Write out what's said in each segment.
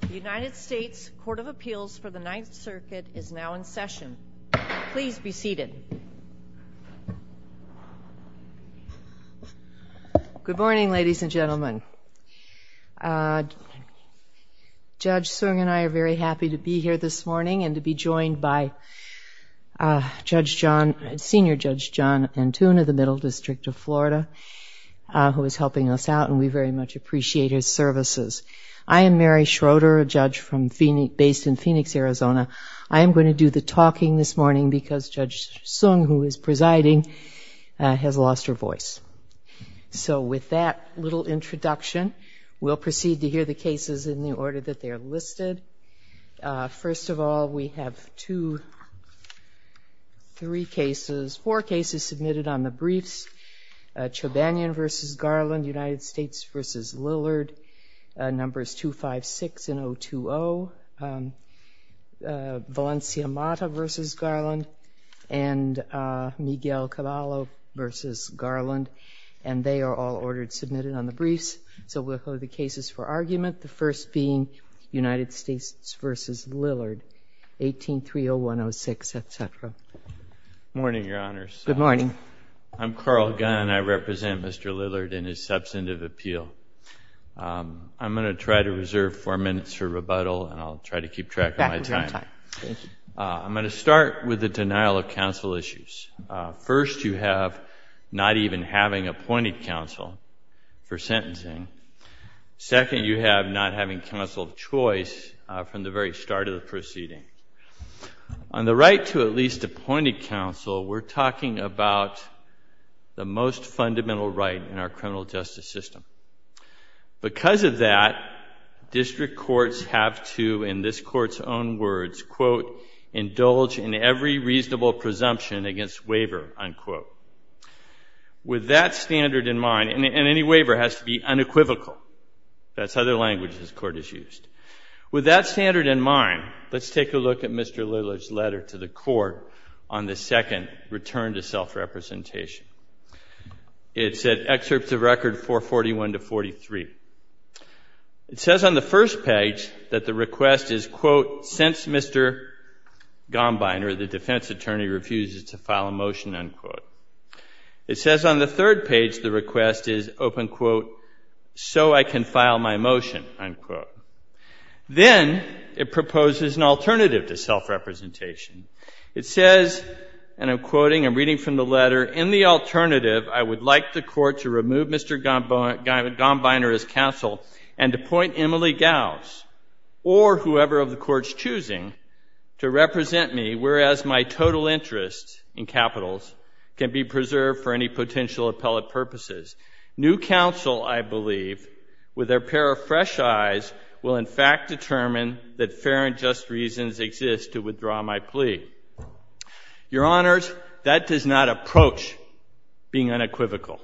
The United States Court of Appeals for the Ninth Circuit is now in session. Please be seated. Good morning, ladies and gentlemen. Judge Soong and I are very happy to be here this morning and to be joined by Judge John, Senior Judge John Antune of the Middle District of Florida who is helping us out and we very much appreciate his services. I am Mary Schroeder, a judge from Phoenix, based in Phoenix, Arizona. I am going to do the talking this morning because Judge Soong, who is presiding, has lost her voice. So with that little introduction, we'll proceed to hear the cases in the order that they are listed. First of all, we have two, three cases, four cases submitted on the briefs. Chobanian v. Garland, United States v. Lillard, numbers 256 and 020, Valencia Mata v. Garland, and Miguel Caballo v. Garland, and they are all ordered, submitted on the briefs. So we'll hear the cases for argument, the first being United States v. Lillard, 18-30106, etc. Good morning, Your Honors. Good morning. I'm Carl Gunn. I represent Mr. Lillard in his substantive appeal. I'm going to try to reserve four minutes for rebuttal and I'll try to keep track of my time. Back with your time. Thank you. I'm going to start with the denial of counsel issues. First, you have not even having appointed counsel for sentencing. Second, you have not having counsel of choice from the very start of the proceeding. On the right to at least appointed counsel, we're talking about the most fundamental right in our criminal justice system. Because of that, district courts have to, in this Court's own words, quote, indulge in every reasonable presumption against waiver, unquote. With that standard in mind, and any waiver has to be unequivocal. That's other language this Court has used. With that standard in mind, let's take a look at Mr. Lillard's letter to the Court on the second return to self-representation. It's at excerpts of record 441 to 43. It says on the first page that the request is, quote, since Mr. Gombiner, the defense attorney, refuses to file a motion, unquote. It says on the third page the request is, open quote, so I can file my motion, unquote. Then it proposes an alternative to self-representation. It says, and I'm quoting, I'm reading from the letter, in the alternative, I would like the Court to remove Mr. Gombiner as counsel and appoint Emily Gauss or whoever of the Court's choosing to represent me, whereas my total interest in capitals can be preserved for any potential appellate purposes. New counsel, I believe, with their pair of fresh eyes, will in fact determine that fair and just reasons exist to withdraw my plea. Your Honors, that does not approach being unequivocal,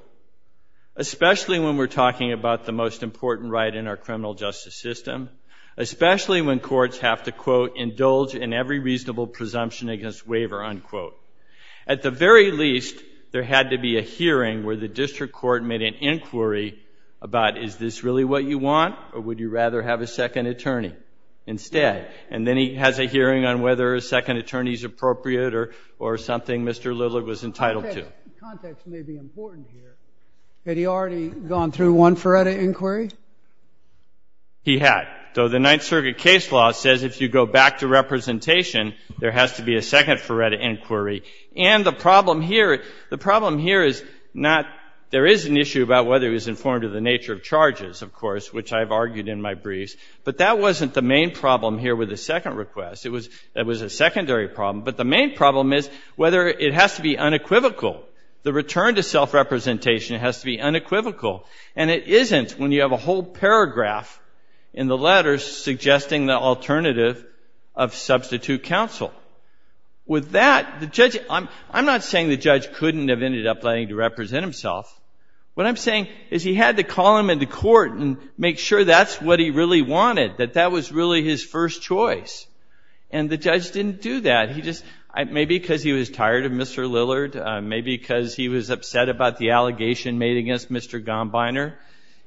especially when we're talking about the most important right in our criminal justice system, especially when courts have to, quote, indulge in every reasonable presumption against waiver, unquote. At the very least, there had to be a hearing where the district court made an inquiry about, is this really what you want, or would you rather have a second attorney instead? And then he has a hearing on whether a second attorney is appropriate or something Mr. Lillard was entitled to. He had. Though the Ninth Circuit case law says if you go back to representation, there has to be a second Faretta inquiry. And the problem here, the problem here is not, there is an issue about whether he's informed of the nature of charges, of course, which I've raised, but that wasn't the main problem here with the second request. That was a secondary problem. But the main problem is whether it has to be unequivocal. The return to self-representation has to be unequivocal. And it isn't when you have a whole paragraph in the letters suggesting the alternative of substitute counsel. With that, the judge, I'm not saying the judge couldn't have ended up planning to represent himself. What I'm saying is he had to call him into court and make sure that's what he really wanted to that was really his first choice. And the judge didn't do that. Maybe because he was tired of Mr. Lillard. Maybe because he was upset about the allegation made against Mr. Gombiner.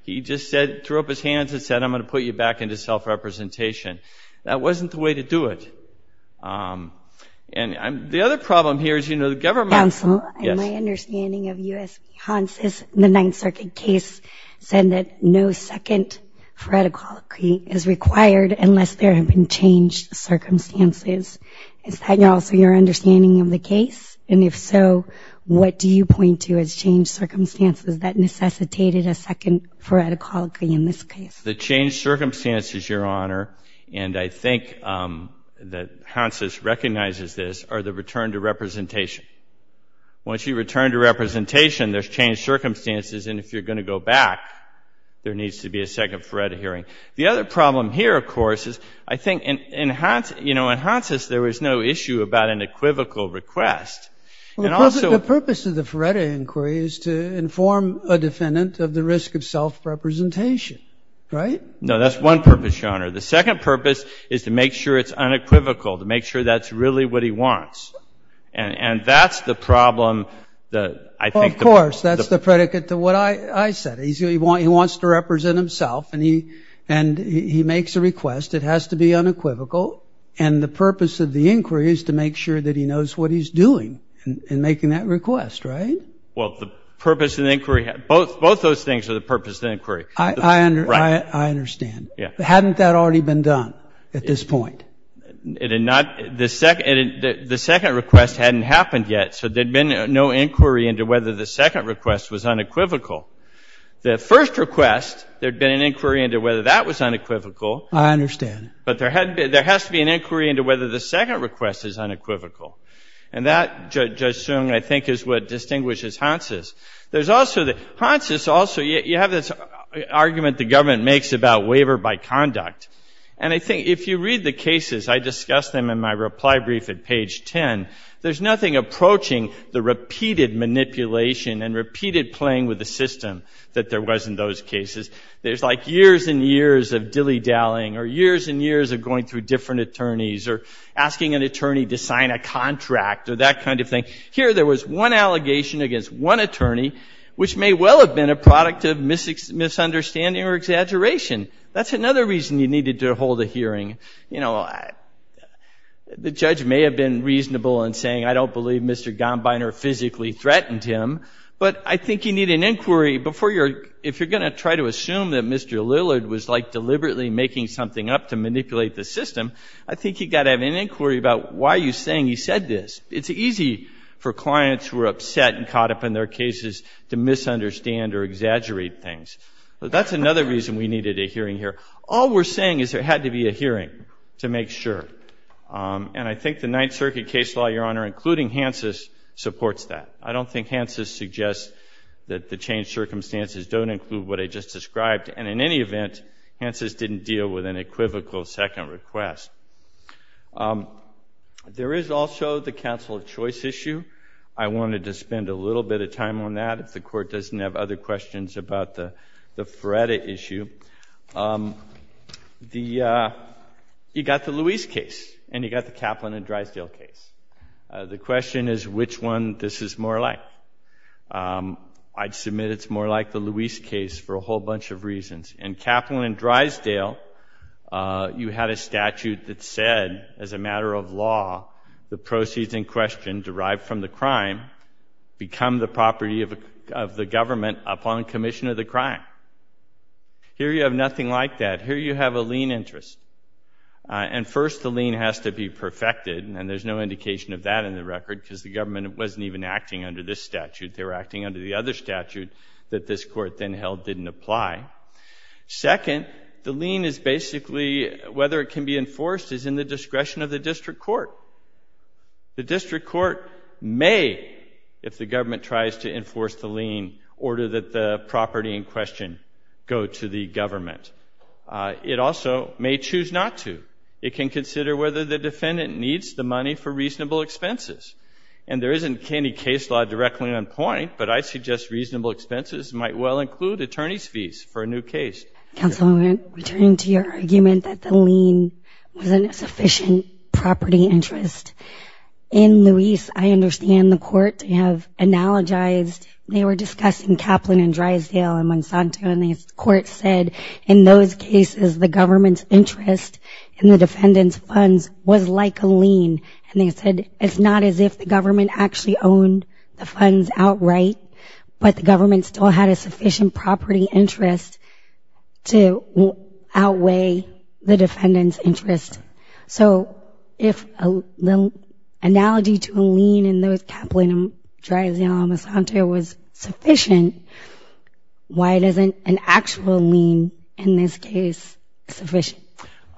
He just threw up his hands and said, I'm going to put you back into self- representation. That wasn't the way to do it. And the other problem here is, you know, the government... Counselor, in my understanding of U.S. Hansen, the Ninth Circuit case said that no second Faretta call occurred. That no second Faretta call is required unless there have been changed circumstances. Is that also your understanding of the case? And if so, what do you point to as changed circumstances that necessitated a second Faretta call in this case? The changed circumstances, Your Honor, and I think that Hansen recognizes this, are the return to representation. Once you return to representation, there's changed circumstances. And if you're going to go back, there needs to be a second Faretta hearing. The other problem here, of course, is I think in Hansen's case, there was no issue about an equivocal request. The purpose of the Faretta inquiry is to inform a defendant of the risk of self-representation, right? No, that's one purpose, Your Honor. The second purpose is to make sure it's unequivocal, to make sure that's really what he wants. And that's the problem that I think... Of course, that's the predicate to what I said. He wants to represent himself, and he makes a request. It has to be unequivocal. And the purpose of the inquiry is to make sure that he knows what he's doing in making that request, right? Well, the purpose of the inquiry... Both those things are the purpose of the inquiry. I understand. Hadn't that already been done at this point? The second request hadn't happened yet, so there'd been no inquiry into whether the second request was unequivocal. The first request, there'd been an inquiry into whether that was unequivocal. I understand. But there has to be an inquiry into whether the second request is unequivocal. And that, Judge Soong, I think is what distinguishes Hansen's. Hansen's also... You have this argument the government makes about waiver by conduct. And I think if you read the cases, I discussed them in my reply brief at page 10, there's nothing approaching the repeated manipulation and repeated playing with the system that there was in those cases. There's like years and years of dilly-dallying, or years and years of going through different attorneys, or asking an attorney to sign a contract, or that kind of thing. Here, there was one allegation against one attorney, which may well have been a product of misunderstanding or exaggeration. That's another reason you needed to hold a hearing. The judge may have been reasonable in saying, I don't believe Mr. Gombiner physically threatened him, but I think you need an inquiry, if you're going to try to assume that Mr. Lillard was like deliberately making something up to manipulate the system, I think you've got to have an inquiry about why you're saying he said this. It's easy for clients who are upset and caught up in their cases to misunderstand or exaggerate things. That's another reason we needed a hearing here. All we're saying is there had to be a hearing. And I think the Ninth Circuit case law, Your Honor, including Hansen's, supports that. I don't think Hansen's suggests that the changed circumstances don't include what I just described, and in any event, Hansen's didn't deal with an equivocal second request. There is also the counsel of choice issue. I wanted to spend a little bit of time on that, if the Court doesn't have other questions about the Feretta issue. You've got the Lewis case, and you've got the Kaplan and Drysdale case. The question is which one this is more like. I'd submit it's more like the Lewis case for a whole bunch of reasons. In Kaplan and Drysdale, you had a statute that said, as a matter of law, the proceeds in question, derived from the crime, become the property of the government upon commission of the crime. Here you have nothing like that. Here you have a lien interest. And first, the lien has to be perfected, and there's no indication of that in the record, because the government wasn't even acting under this statute. They were acting under the other statute that this Court then held didn't apply. Second, the lien is basically, whether it can be enforced, is in the discretion of the district court. The district court may, if the government tries to enforce the lien, order that the property in question be reimbursed. The property in question goes to the government. It also may choose not to. It can consider whether the defendant needs the money for reasonable expenses. And there isn't any case law directly on point, but I suggest reasonable expenses might well include attorney's fees for a new case. Councilwoman, returning to your argument that the lien wasn't a sufficient property interest. In Lewis, I understand the Court have analogized, they were discussing Kaplan and Drysdale and Monsanto. And the Court said, in those cases, the government's interest in the defendant's funds was like a lien. And they said, it's not as if the government actually owned the funds outright, but the government still had a sufficient property interest to outweigh the defendant's interest. So, if the analogy to a lien in those Kaplan and Drysdale and Monsanto was sufficient, why doesn't it apply to the defendant? Why isn't an actual lien, in this case, sufficient?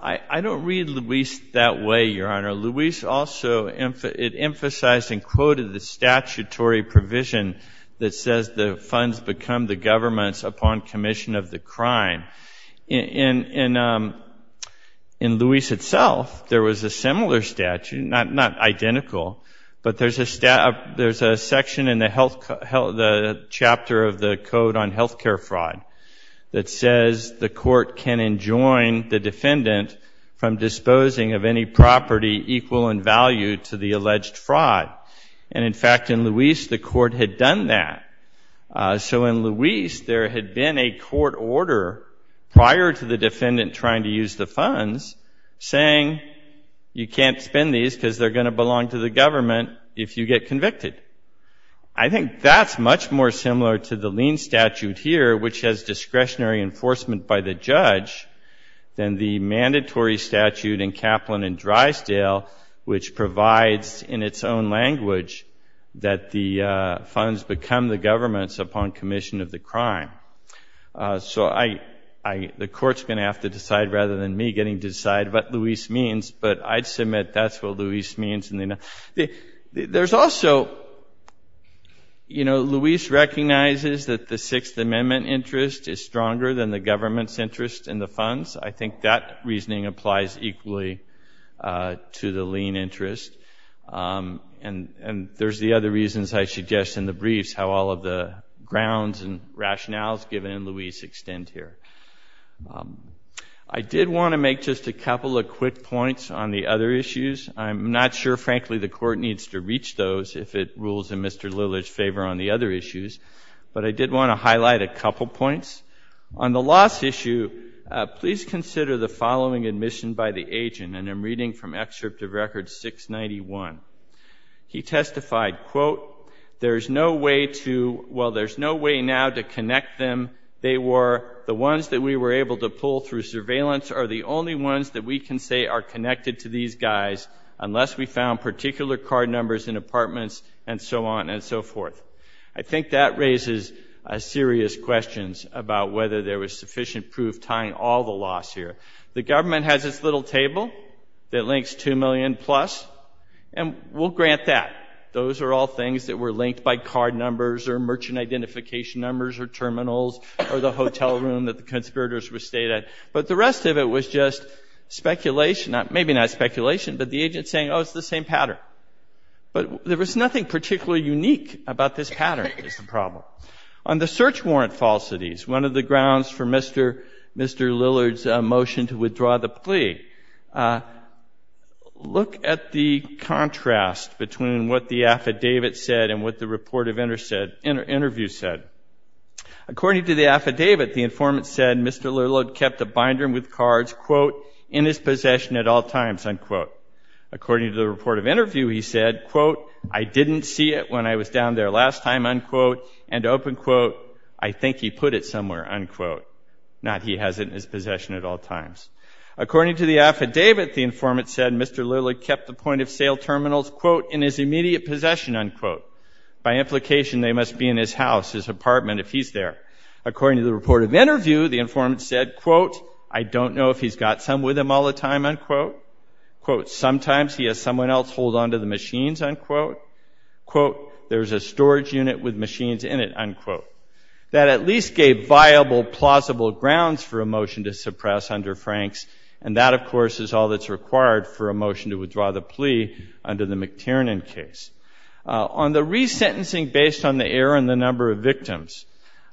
I don't read Lewis that way, Your Honor. Lewis also, it emphasized and quoted the statutory provision that says the funds become the government's upon commission of the crime. In Lewis itself, there was a similar statute, not identical, but there's a section in the chapter of the code on health care fraud. That says the court can enjoin the defendant from disposing of any property equal in value to the alleged fraud. And, in fact, in Lewis, the court had done that. So, in Lewis, there had been a court order prior to the defendant trying to use the funds saying, you can't spend these because they're going to belong to the government if you get convicted. I think that's much more similar to the lien statute here, which has discretionary enforcement by the judge, than the mandatory statute in Kaplan and Drysdale, which provides in its own language that the funds become the government's upon commission of the crime. So, the court's going to have to decide rather than me getting to decide what Lewis means, but I'd submit that's what Lewis means. There's also, you know, Lewis recognizes that the Sixth Amendment interest is stronger than the government's interest in the funds. I think that reasoning applies equally to the lien interest. And there's the other reasons I suggest in the briefs how all of the grounds and rationales given in Lewis extend here. I did want to make just a couple of quick points on the other issues. I'm not sure, frankly, the court needs to reach those if it rules in Mr. Lillard's favor on the other issues, but I did want to highlight a couple points. On the loss issue, please consider the following admission by the agent, and I'm reading from Excerpt of Record 691. He testified, quote, there's no way to, well, there's no way now to connect them. They were, the ones that we were able to pull through surveillance are the only ones that we can say are connected to these guys. Unless we found particular card numbers in apartments and so on and so forth. I think that raises serious questions about whether there was sufficient proof tying all the loss here. The government has its little table that links 2 million plus, and we'll grant that. Those are all things that were linked by card numbers or merchant identification numbers or terminals or the hotel room that the conspirators were stayed at. But the rest of it was just speculation, maybe not speculation, but the agent's testimony. It's saying, oh, it's the same pattern. But there was nothing particularly unique about this pattern is the problem. On the search warrant falsities, one of the grounds for Mr. Lillard's motion to withdraw the plea, look at the contrast between what the affidavit said and what the report of interview said. According to the affidavit, the informant said Mr. Lillard kept a binder with cards, quote, in his possession at all times, unquote. According to the report of interview, he said, quote, I didn't see it when I was down there last time, unquote. And open quote, I think he put it somewhere, unquote. Not he has it in his possession at all times. According to the affidavit, the informant said Mr. Lillard kept the point of sale terminals, quote, in his immediate possession, unquote. By implication, they must be in his house, his apartment, if he's there. According to the report of interview, the informant said, quote, I don't know if he's got some with him all the time, unquote. Quote, sometimes he has someone else hold on to the machines, unquote. Quote, there's a storage unit with machines in it, unquote. That at least gave viable, plausible grounds for a motion to suppress under Franks. And that, of course, is all that's required for a motion to withdraw the plea under the McTiernan case. On the resentencing based on the error in the number of victims,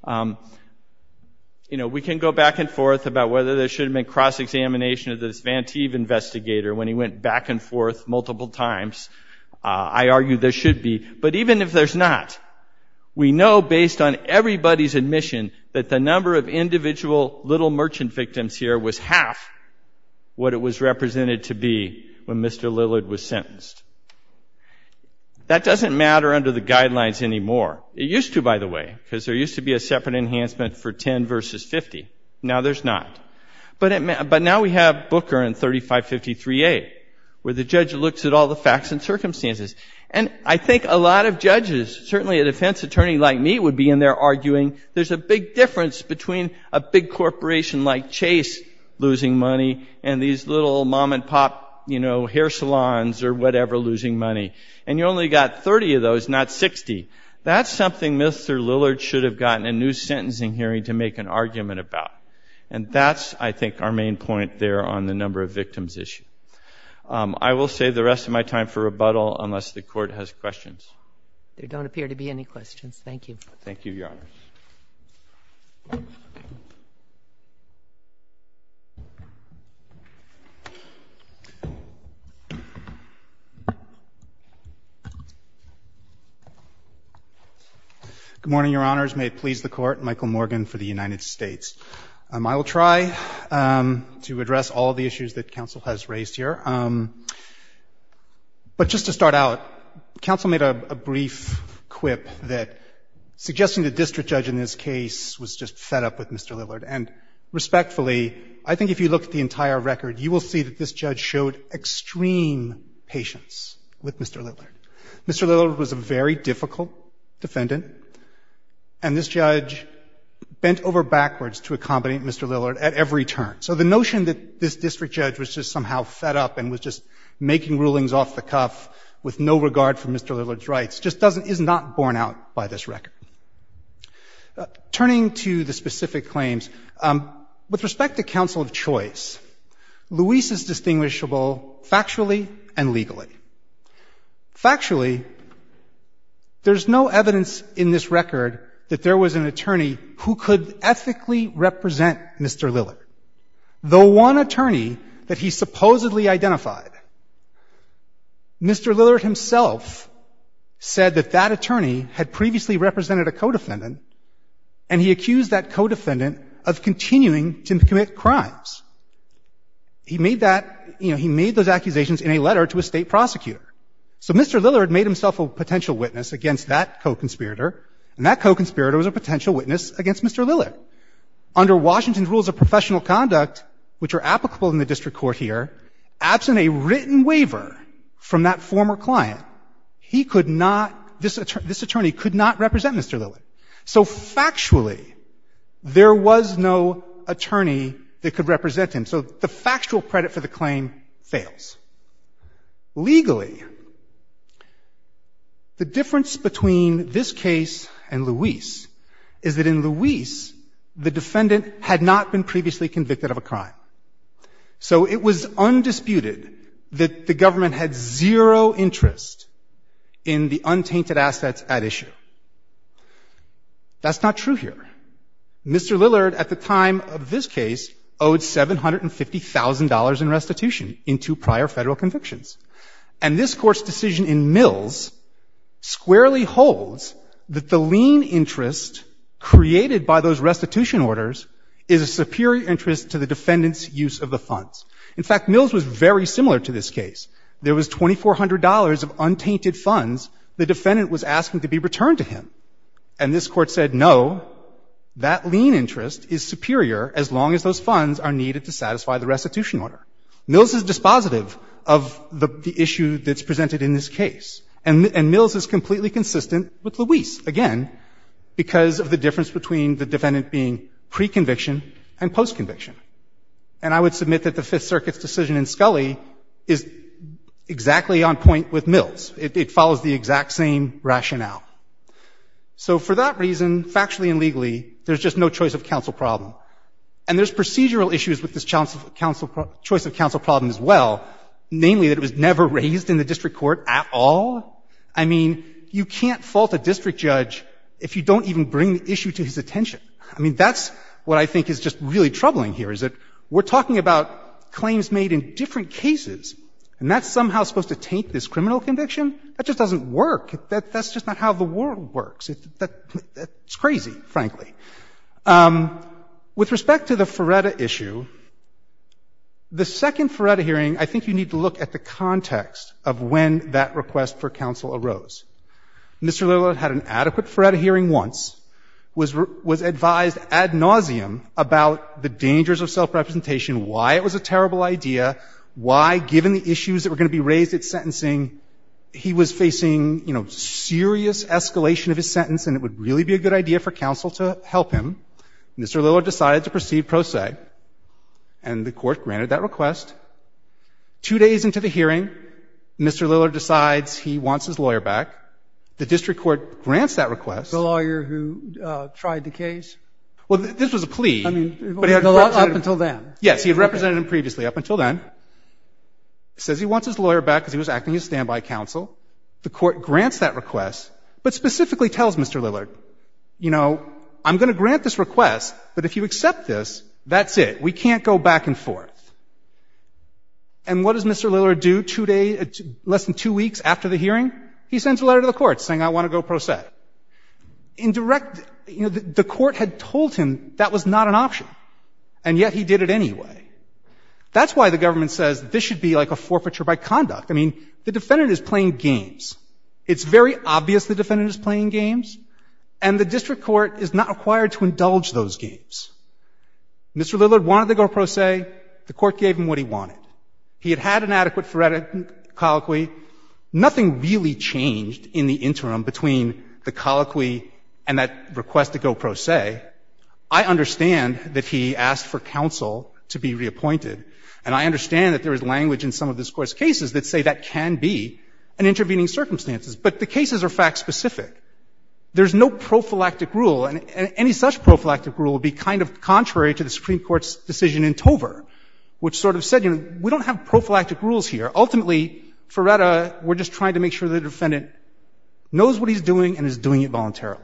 you know, we can go back and forth about whether there should have been a cross-examination of this Vanteve investigator when he went back and forth multiple times. I argue there should be. But even if there's not, we know based on everybody's admission that the number of individual little merchant victims here was half what it was represented to be when Mr. Lillard was sentenced. That doesn't matter under the guidelines anymore. It used to, by the way, because there used to be a separate enhancement for 10 versus 50. Now there's not. But now we have Booker and 3553A, where the judge looks at all the facts and circumstances. And I think a lot of judges, certainly a defense attorney like me would be in there arguing there's a big difference between a big corporation like Chase losing money and these little mom and pop, you know, hair salons or whatever losing money. And you only got 30 of those, not 60. That's something Mr. Lillard should have gotten a new sentencing hearing to make an argument about. And that's, I think, our main point there on the number of victims issue. I will save the rest of my time for rebuttal unless the Court has questions. There don't appear to be any questions. Thank you. Thank you, Your Honor. Good morning, Your Honors. May it please the Court. Michael Morgan for the United States. I will try to address all the issues that counsel has raised here. But just to start out, counsel made a brief quip that suggesting the district judge in this case was just fed up with Mr. Lillard. And respectfully, I think if you look at the entire record, you will see that this judge showed extreme patience with Mr. Lillard. Mr. Lillard was a very difficult defendant, and this judge bent over backwards to accommodate Mr. Lillard at every turn. So the notion that this district judge was just somehow fed up and was just making rulings off the cuff with no regard for Mr. Lillard's rights just doesn't, is not borne out by this record. Turning to the specific claims, with respect to counsel of choice, Luis is distinguishable factually and legally. Factually, there's no evidence in this record that there was an attorney who could ethically represent Mr. Lillard. The one attorney that he supposedly identified, Mr. Lillard himself said that that attorney had previously represented a co-defendant, and he accused that co-defendant of continuing to commit crimes. He made that, you know, he made those accusations in a letter to a state prosecutor. So Mr. Lillard made himself a potential witness against that co-conspirator, and that co-conspirator was a potential witness against Mr. Lillard. Under Washington's rules of professional conduct, which are applicable in the district court here, absent a written waiver from that former client, he could not, this attorney could not represent Mr. Lillard. So factually, there was no attorney that could represent him, so the factual credit for the claim fails. Legally, the difference between this case and Luis is that in Luis, the defendant had not been previously convicted of a crime. So it was undisputed that the government had zero interest in the untainted assets at issue. That's not true here. Mr. Lillard at the time of this case owed $750,000 in restitution in two prior Federal convictions. And this Court's decision in Mills squarely holds that the lien interest created by those restitution orders is a superior interest to the defendant's use of the funds. In fact, Mills was very similar to this case. There was $2,400 of untainted funds the defendant was asking to be returned to him. And this Court said, no, that lien interest is superior as long as those funds are needed to satisfy the restitution order. Mills is dispositive of the issue that's presented in this case. And Mills is completely consistent with Luis, again, because of the difference between the defendant being pre-conviction and post-conviction. And I would submit that the Fifth Circuit's decision in Scully is exactly on point with Mills. It follows the exact same rationale. So for that reason, factually and legally, there's just no choice of counsel problem. And there's procedural issues with this choice of counsel problem as well, namely that it was never raised in the district court at all. I mean, you can't fault a district judge if you don't even bring the issue to his attention. I mean, that's what I think is just really troubling here, is that we're talking about claims made in different cases, and that's somehow supposed to taint this criminal conviction? That just doesn't work. That's just not how the world works. It's crazy, frankly. With respect to the Feretta issue, the second Feretta hearing, I think you need to look at the context of when that request for counsel arose. Mr. Lillard had an adequate Feretta hearing once, was advised ad nauseum about the dangers of self-representation, why it was a terrible idea, why, given the issues that were going to be raised at sentencing, he was facing, you know, serious escalation of his sentence, and it would really be a good idea for counsel to help him. Mr. Lillard decided to proceed pro se, and the Court granted that request. Two days into the hearing, Mr. Lillard decides he wants his lawyer back. The District Court grants that request. The lawyer who tried the case? Well, this was a plea. I mean, up until then. Yes, he had represented him previously up until then. Says he wants his lawyer back because he was acting as standby counsel. The Court grants that request, but specifically tells Mr. Lillard, you know, I'm going to grant this request, but if you accept this, that's it. We can't go back and forth. And what does Mr. Lillard do two days, less than two weeks after the hearing? He sends a letter to the Court saying I want to go pro se. In direct, you know, the Court had told him that was not an option, and yet he did it anyway. That's why the government says this should be like a forfeiture by conduct. I mean, the defendant is playing games. It's very obvious the defendant is playing games, and the District Court is not required to indulge those games. Mr. Lillard wanted the go pro se. The Court gave him what he wanted. He had had an adequate forensic colloquy. Nothing really changed in the interim between the colloquy and that request to go pro se. I understand that he asked for counsel to be reappointed, and I understand that there is language in some of this Court's cases that say that can be an intervening circumstances. But the cases are fact-specific. There's no prophylactic rule, and any such prophylactic rule would be kind of contrary to the Supreme Court's decision in Tover, which sort of said, you know, we don't have prophylactic rules here. Ultimately, for Retta, we're just trying to make sure the defendant knows what he's doing and is doing it voluntarily.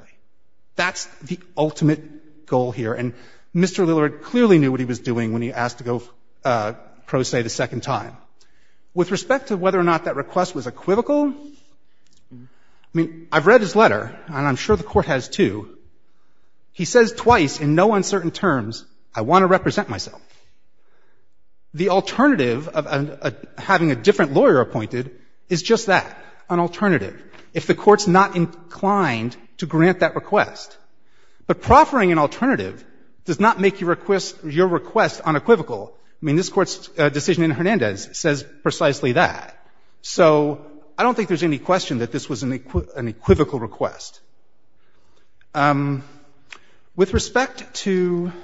That's the ultimate goal here, and Mr. Lillard clearly knew what he was doing when he asked to go pro se the second time. With respect to whether or not that request was equivocal, I mean, I've read his letter, and I'm sure the Court has, too. He says twice in no uncertain terms, I want to represent myself. The alternative of having a different lawyer appointed is just that, an alternative, if the Court's not inclined to grant that request. But proffering an alternative does not make your request unequivocal. I mean, this Court's decision in Hernandez says precisely that. So I don't think there's any question that this was an equivocal request. With respect to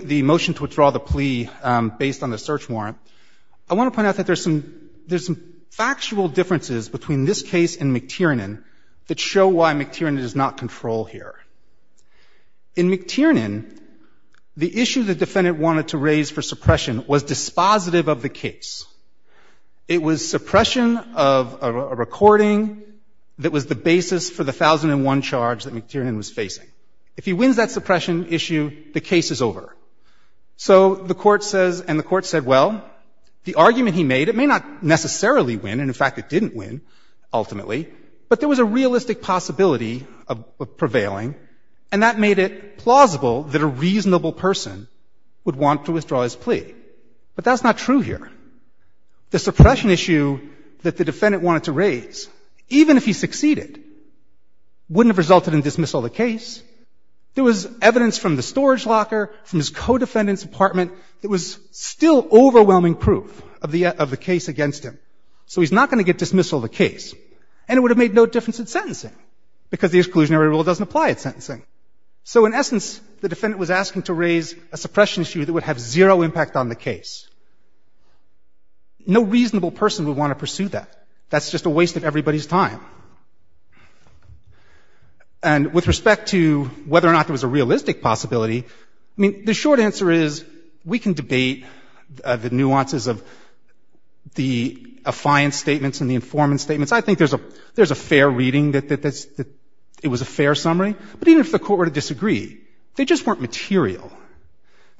the motion to withdraw the plea based on the search warrant, I want to point out that there's some factual differences between this case and McTiernan that show why McTiernan does not control here. In McTiernan, the issue the defendant wanted to raise for suppression was dispositive of the case. It was suppression of a recording that was the basis for the 1001 charge that McTiernan was facing. If he wins that suppression issue, the case is over. So the Court says, and the Court said, well, the argument he made, it may not necessarily win, and, in fact, it didn't win ultimately, but there was a realistic possibility of prevailing, and that made it plausible that a reasonable person would want to withdraw his plea. But that's not true here. The suppression issue that the defendant wanted to raise, even if he succeeded, wouldn't have resulted in dismissal of the case. There was evidence from the storage locker, from his co-defendant's apartment, that was still overwhelming proof of the case against him. So he's not going to get dismissal of the case. And it would have made no difference in sentencing, because the exclusionary rule doesn't apply at sentencing. So, in essence, the defendant was asking to raise a suppression issue that would have zero impact on the case. No reasonable person would want to pursue that. That's just a waste of everybody's time. And with respect to whether or not there was a realistic possibility, I mean, the short answer is we can debate the nuances of the affiance statements and the informant statements. I think there's a fair reading that it was a fair summary. But even if the court were to disagree, they just weren't material.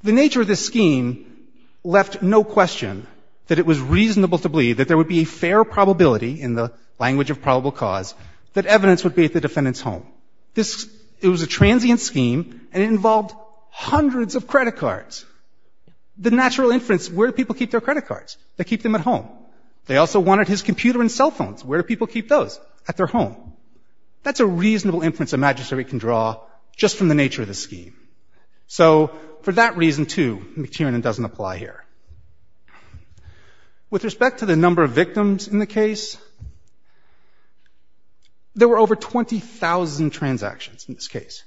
The nature of this scheme left no question that it was reasonable to believe that there would be a fair probability, in the language of probable cause, that evidence would be at the defendant's home. It was a transient scheme, and it involved hundreds of credit cards. The natural inference, where do people keep their credit cards? They keep them at home. They also wanted his computer and cell phones. Where do people keep those? At their home. That's a reasonable inference a magistrate can draw just from the nature of the scheme. So, for that reason, too, McTiernan doesn't apply here. With respect to the number of victims in the case, there were over 20,000 transactions in this case.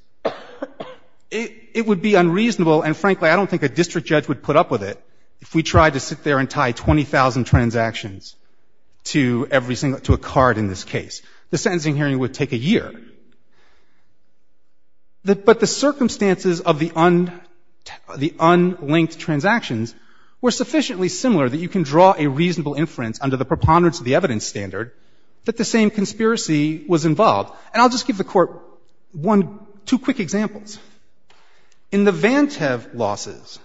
It would be unreasonable, and frankly, I don't think a district judge would put up with it, if we tried to sit there and tie 20,000 transactions to every single to a card in this case. The sentencing hearing would take a year. But the circumstances of the unlinked transactions were sufficiently similar that you can draw a reasonable inference under the preponderance of the evidence standard that the same conspiracy was involved. And I'll just give the Court one, two quick examples. In the Vantev losses,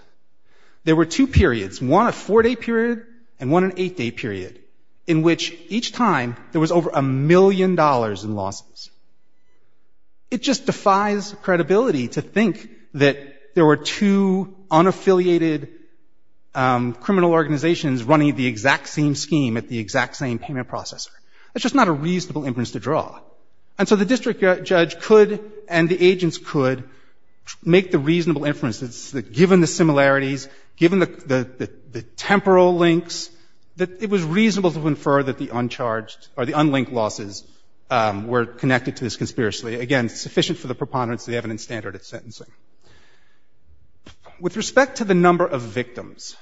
there were two periods, one a four-day period and one an eight-day period, in which each time there was over a million dollars in losses. It just defies credibility to think that there were two unaffiliated criminal organizations running the exact same scheme at the exact same payment processor. That's just not a reasonable inference to draw. And so the district judge could and the agents could make the reasonable inference that given the similarities, given the temporal links, that it was reasonable to infer that the uncharged or the unlinked losses were connected to this conspiracy. Again, sufficient for the preponderance of the evidence standard at sentencing. With respect to the number of victims,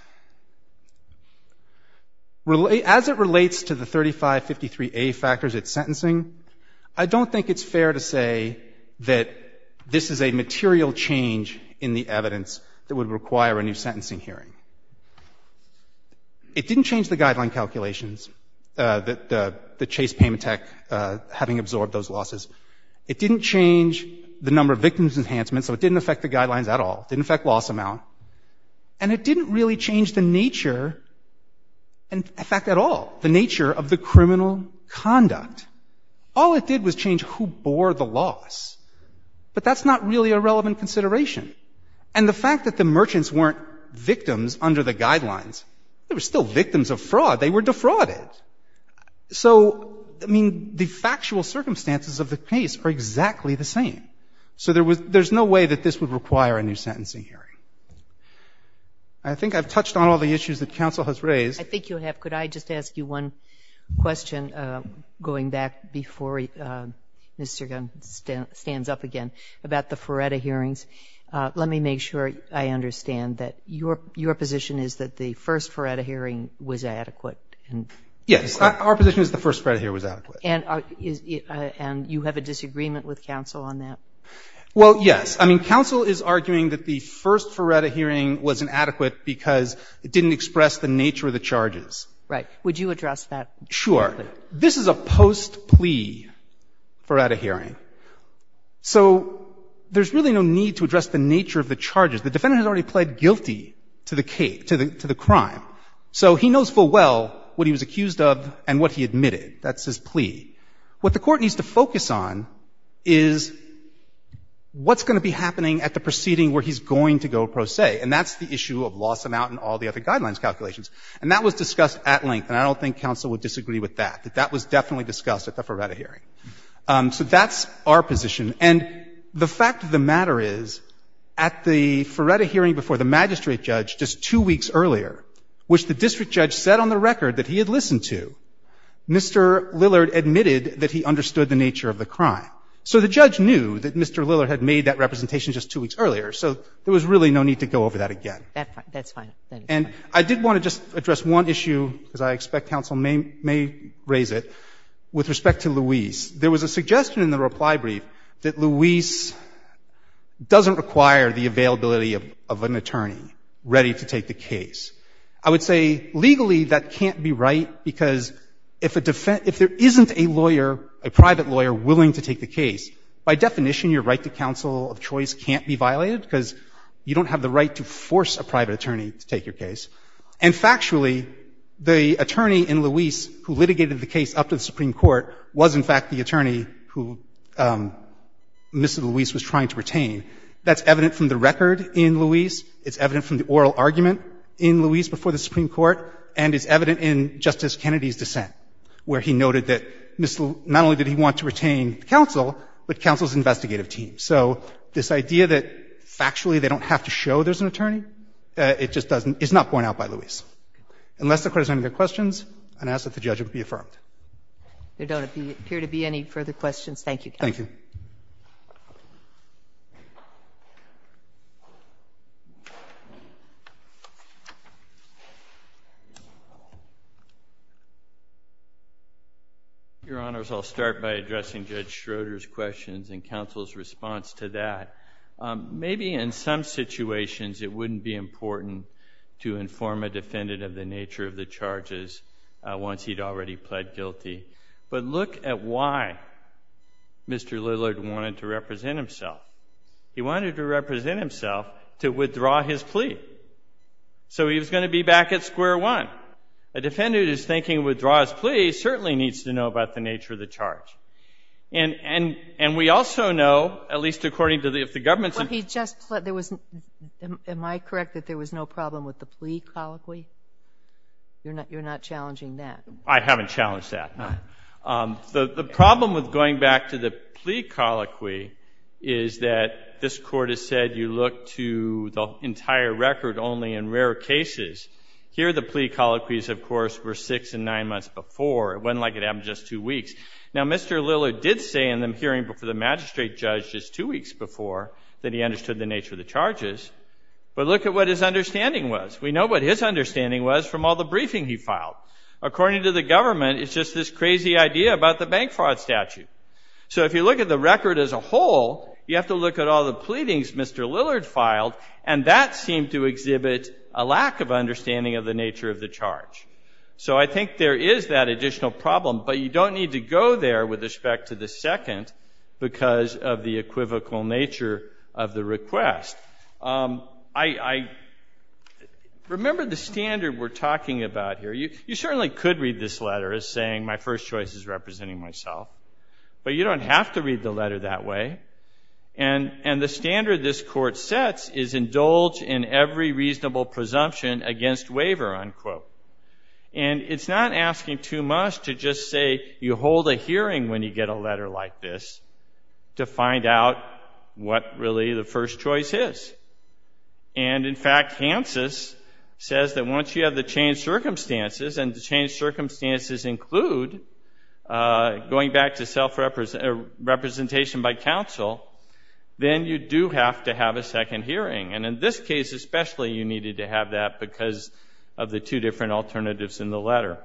as it relates to the 3553A factors at least, I don't think it's fair to say that this is a material change in the evidence that would require a new sentencing hearing. It didn't change the guideline calculations, the Chase Payment Tech having absorbed those losses. It didn't change the number of victims enhancement, so it didn't affect the guidelines at all. It didn't affect loss amount. And it didn't really change the nature, in fact, at all, the nature of the criminal conduct. All it did was change who bore the loss. But that's not really a relevant consideration. And the fact that the merchants weren't victims under the guidelines, they were still victims of fraud. They were defrauded. So, I mean, the factual circumstances of the case are exactly the same. So there's no way that this would require a new sentencing hearing. I think I've touched on all the issues that counsel has raised. I think you have. Could I just ask you one question, going back before Mr. Gunn stands up again about the Ferretta hearings? Let me make sure I understand that your position is that the first Ferretta hearing was adequate. Yes. Our position is the first Ferretta hearing was adequate. And you have a disagreement with counsel on that? Well, yes. I mean, counsel is arguing that the first Ferretta hearing was inadequate because it didn't express the nature of the charges. Right. Would you address that? Sure. This is a post-plea Ferretta hearing. So there's really no need to address the nature of the charges. The defendant has already pled guilty to the crime. So he knows full well what he was accused of and what he admitted. That's his plea. What the Court needs to focus on is what's going to be happening at the proceeding where he's going to go pro se. And that's the issue of loss amount and all the other guidelines calculations. And that was discussed at length, and I don't think counsel would disagree with that, that that was definitely discussed at the Ferretta hearing. So that's our position. And the fact of the matter is, at the Ferretta hearing before the magistrate judge just two weeks earlier, which the district judge said on the record that he had listened to, Mr. Lillard admitted that he understood the nature of the crime. So the judge knew that Mr. Lillard had made that representation just two weeks earlier. So there was really no need to go over that again. And I did want to just address one issue, because I expect counsel may raise it, with respect to Luis. There was a suggestion in the reply brief that Luis doesn't require the availability of an attorney ready to take the case. I would say legally that can't be right, because if a defense — if there isn't a lawyer, a private lawyer willing to take the case, by definition your right to counsel of choice can't be violated, because you don't have the right to force a private attorney to take your case. And factually, the attorney in Luis who litigated the case up to the Supreme Court was, in fact, the attorney who Mr. Luis was trying to retain. That's evident from the record in Luis. It's evident from the oral argument in Luis before the Supreme Court. And it's evident in Justice Kennedy's dissent, where he noted that not only did he want to retain counsel, but counsel's investigative team. So this idea that factually they don't have to show there's an attorney, it just doesn't — it's not borne out by Luis. Unless the Court has any other questions, and I ask that the judge be affirmed. There don't appear to be any further questions. Thank you, counsel. Your Honors, I'll start by addressing Judge Schroeder's questions and counsel's response to that. Maybe in some situations it wouldn't be important to inform a defendant of the nature of the charges once he'd already pled guilty. But look at why Mr. Lillard wanted to represent himself. He wanted to represent himself to withdraw his plea. So he was going to be back at square one. A defendant who's thinking withdraw his plea certainly needs to know about the nature of the charge. And we also know, at least according to the — if the government's — Well, he just pled — there was — am I correct that there was no problem with the plea colloquy? You're not challenging that? I haven't challenged that. The problem with going back to the plea colloquy is that this Court has said you look to the entire record only in rare cases. Here the plea colloquies, of course, were six and nine months before. It wasn't like it happened just two weeks. Now, Mr. Lillard did say in the hearing before the magistrate judge just two weeks before that he understood the nature of the charges. But look at what his understanding was. We know what his understanding was from all the briefing he filed. According to the government, it's just this crazy idea about the bank fraud statute. So if you look at the record as a whole, you have to look at all the pleadings Mr. Lillard filed, and that seemed to exhibit a lack of understanding of the nature of the charge. So I think there is that additional problem, but you don't need to go there with respect to the second because of the equivocal nature of the request. I remember the standard we're talking about here. You certainly could read this letter as saying my first choice is representing myself, but you don't have to read the letter that way. And the standard this Court sets is indulge in every reasonable presumption against waiver, unquote. And it's not asking too much to just say you hold a hearing when you get a letter like this to find out what really the first choice is. And in fact, Hanses says that once you have the changed circumstances, and the changed circumstances include going back to self-representation by counsel, then you do have to have a second hearing. And in this case especially, you needed to have that because of the two different alternatives in the letter.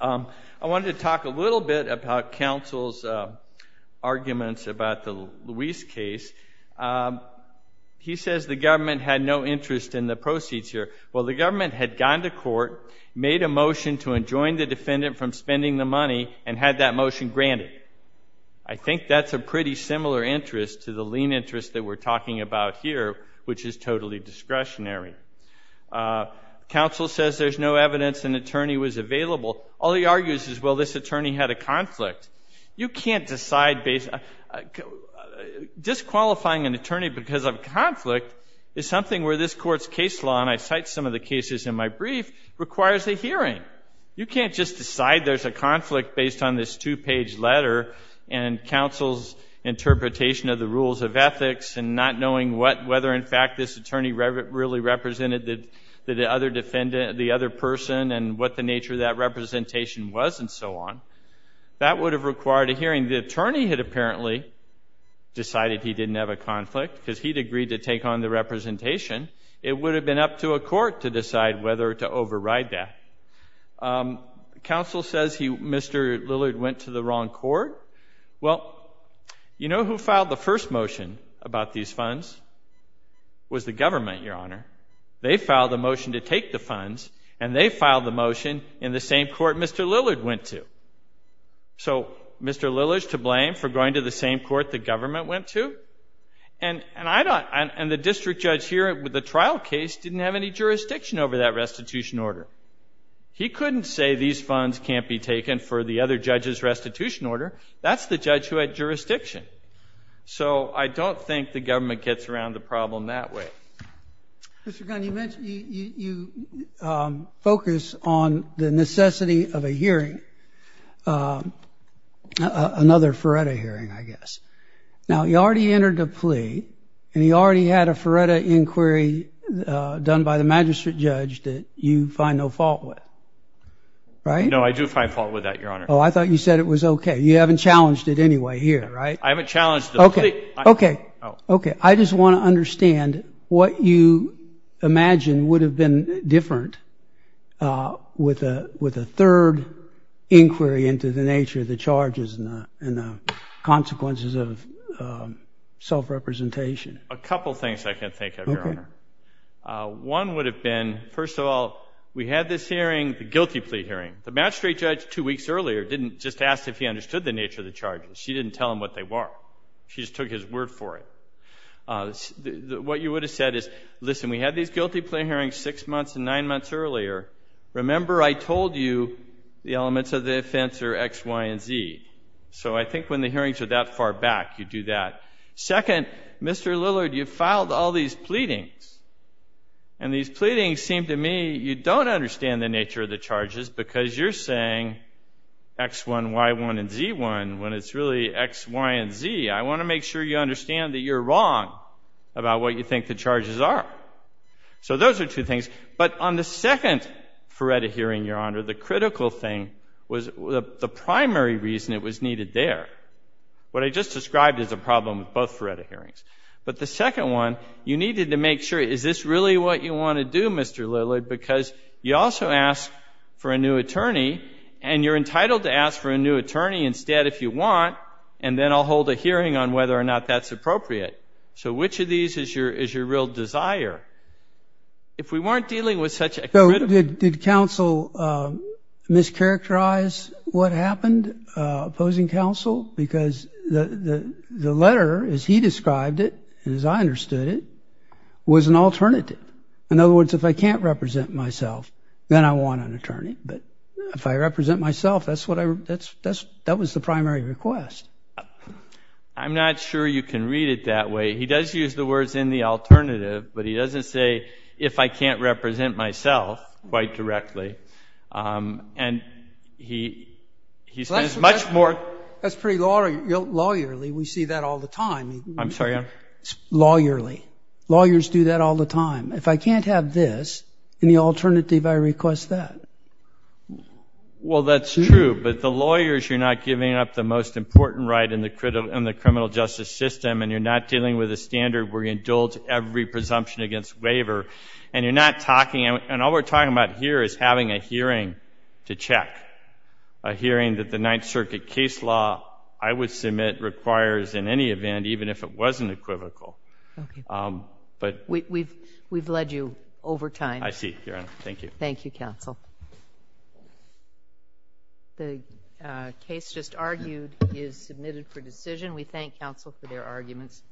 I wanted to talk a little bit about counsel's arguments about the Luis case. He says the government had no interest in the proceeds here. Well, the government had gone to court, made a motion to enjoin the defendant from spending the money, and had that motion granted. I think that's a pretty similar interest to the lien interest that we're talking about here, which is totally discretionary. Counsel says there's no evidence an attorney was available. All he argues is, well, this attorney had a conflict. You can't decide based on – disqualifying an attorney because of conflict is something where this Court's case law, and I cite some of the cases in my brief, requires a hearing. You can't just decide there's a conflict based on this two-page letter and counsel's interpretation of the rules of ethics and not knowing whether in fact this attorney really represented the other person and what the nature of that representation was and so on. That would have required a hearing. The attorney had apparently decided he didn't have a conflict because he'd agreed to take on the representation. It would have been up to a court to decide whether to override that. Counsel says Mr. Lillard went to the wrong court. Well, you know who filed the first motion about these funds? It was the government, Your Honor. They filed the motion to take the funds, and they filed the motion in the same court Mr. Lillard went to. So Mr. Lillard's to blame for going to the same court the government went to? And the district judge here with the trial case didn't have any jurisdiction over that restitution order. He couldn't say these funds can't be taken for the other judge's restitution order. That's the judge who had jurisdiction. So I don't think the government gets around the problem that way. Mr. Gunn, you mentioned you focus on the necessity of a hearing, another FARETA hearing, I guess. Now, you already entered a plea, and you already had a FARETA inquiry done by the magistrate judge that you find no fault with, right? No, I do find fault with that, Your Honor. Oh, I thought you said it was okay. You haven't challenged it anyway here, right? I haven't challenged the plea. Okay. Okay. I just want to understand what you imagine would have been different with a third inquiry into the nature of the charges and the consequences of self-representation. A couple things I can think of, Your Honor. Okay. One would have been, first of all, we had this hearing, the guilty plea hearing. The magistrate judge two weeks earlier didn't just ask if he understood the nature of the charges. She didn't tell him what they were. She just took his word for it. What you would have said is, listen, we had these guilty plea hearings six months and nine months earlier. Remember, I told you the elements of the offense are X, Y, and Z. So I think when the hearings are that far back, you do that. Second, Mr. Lillard, you filed all these pleadings, and these pleadings seem to me, you don't understand the nature of the charges because you're saying X1, Y1, and Z1 when it's really X, Y, and Z. I want to make sure you understand that you're wrong about what you think the charges are. So those are two things. But on the second Feretta hearing, Your Honor, the critical thing was the primary reason it was needed there. What I just described is a problem with both Feretta hearings. But the second one, you needed to make sure, is this really what you want to do, Mr. Lillard, because you also ask for a new attorney, and you're entitled to ask for a new attorney instead if you want, and then I'll hold a hearing on whether or not that's appropriate. So which of these is your real desire? If we weren't dealing with such a critical ---- So did counsel mischaracterize what happened, opposing counsel? Because the letter, as he described it and as I understood it, was an alternative. In other words, if I can't represent myself, then I want an attorney. But if I represent myself, that was the primary request. I'm not sure you can read it that way. He does use the words in the alternative, but he doesn't say, if I can't represent myself quite directly. And he says much more ---- That's pretty lawyerly. We see that all the time. I'm sorry, Your Honor. Lawyerly. If I can't have this, in the alternative I request that. Well, that's true. But the lawyers, you're not giving up the most important right in the criminal justice system, and you're not dealing with a standard where you indulge every presumption against waiver, and you're not talking ---- and all we're talking about here is having a hearing to check, a hearing that the Ninth Circuit case law, I would submit, requires in any event, even if it wasn't equivocal. We've led you over time. I see, Your Honor. Thank you. Thank you, counsel. The case just argued is submitted for decision. We thank counsel for their arguments.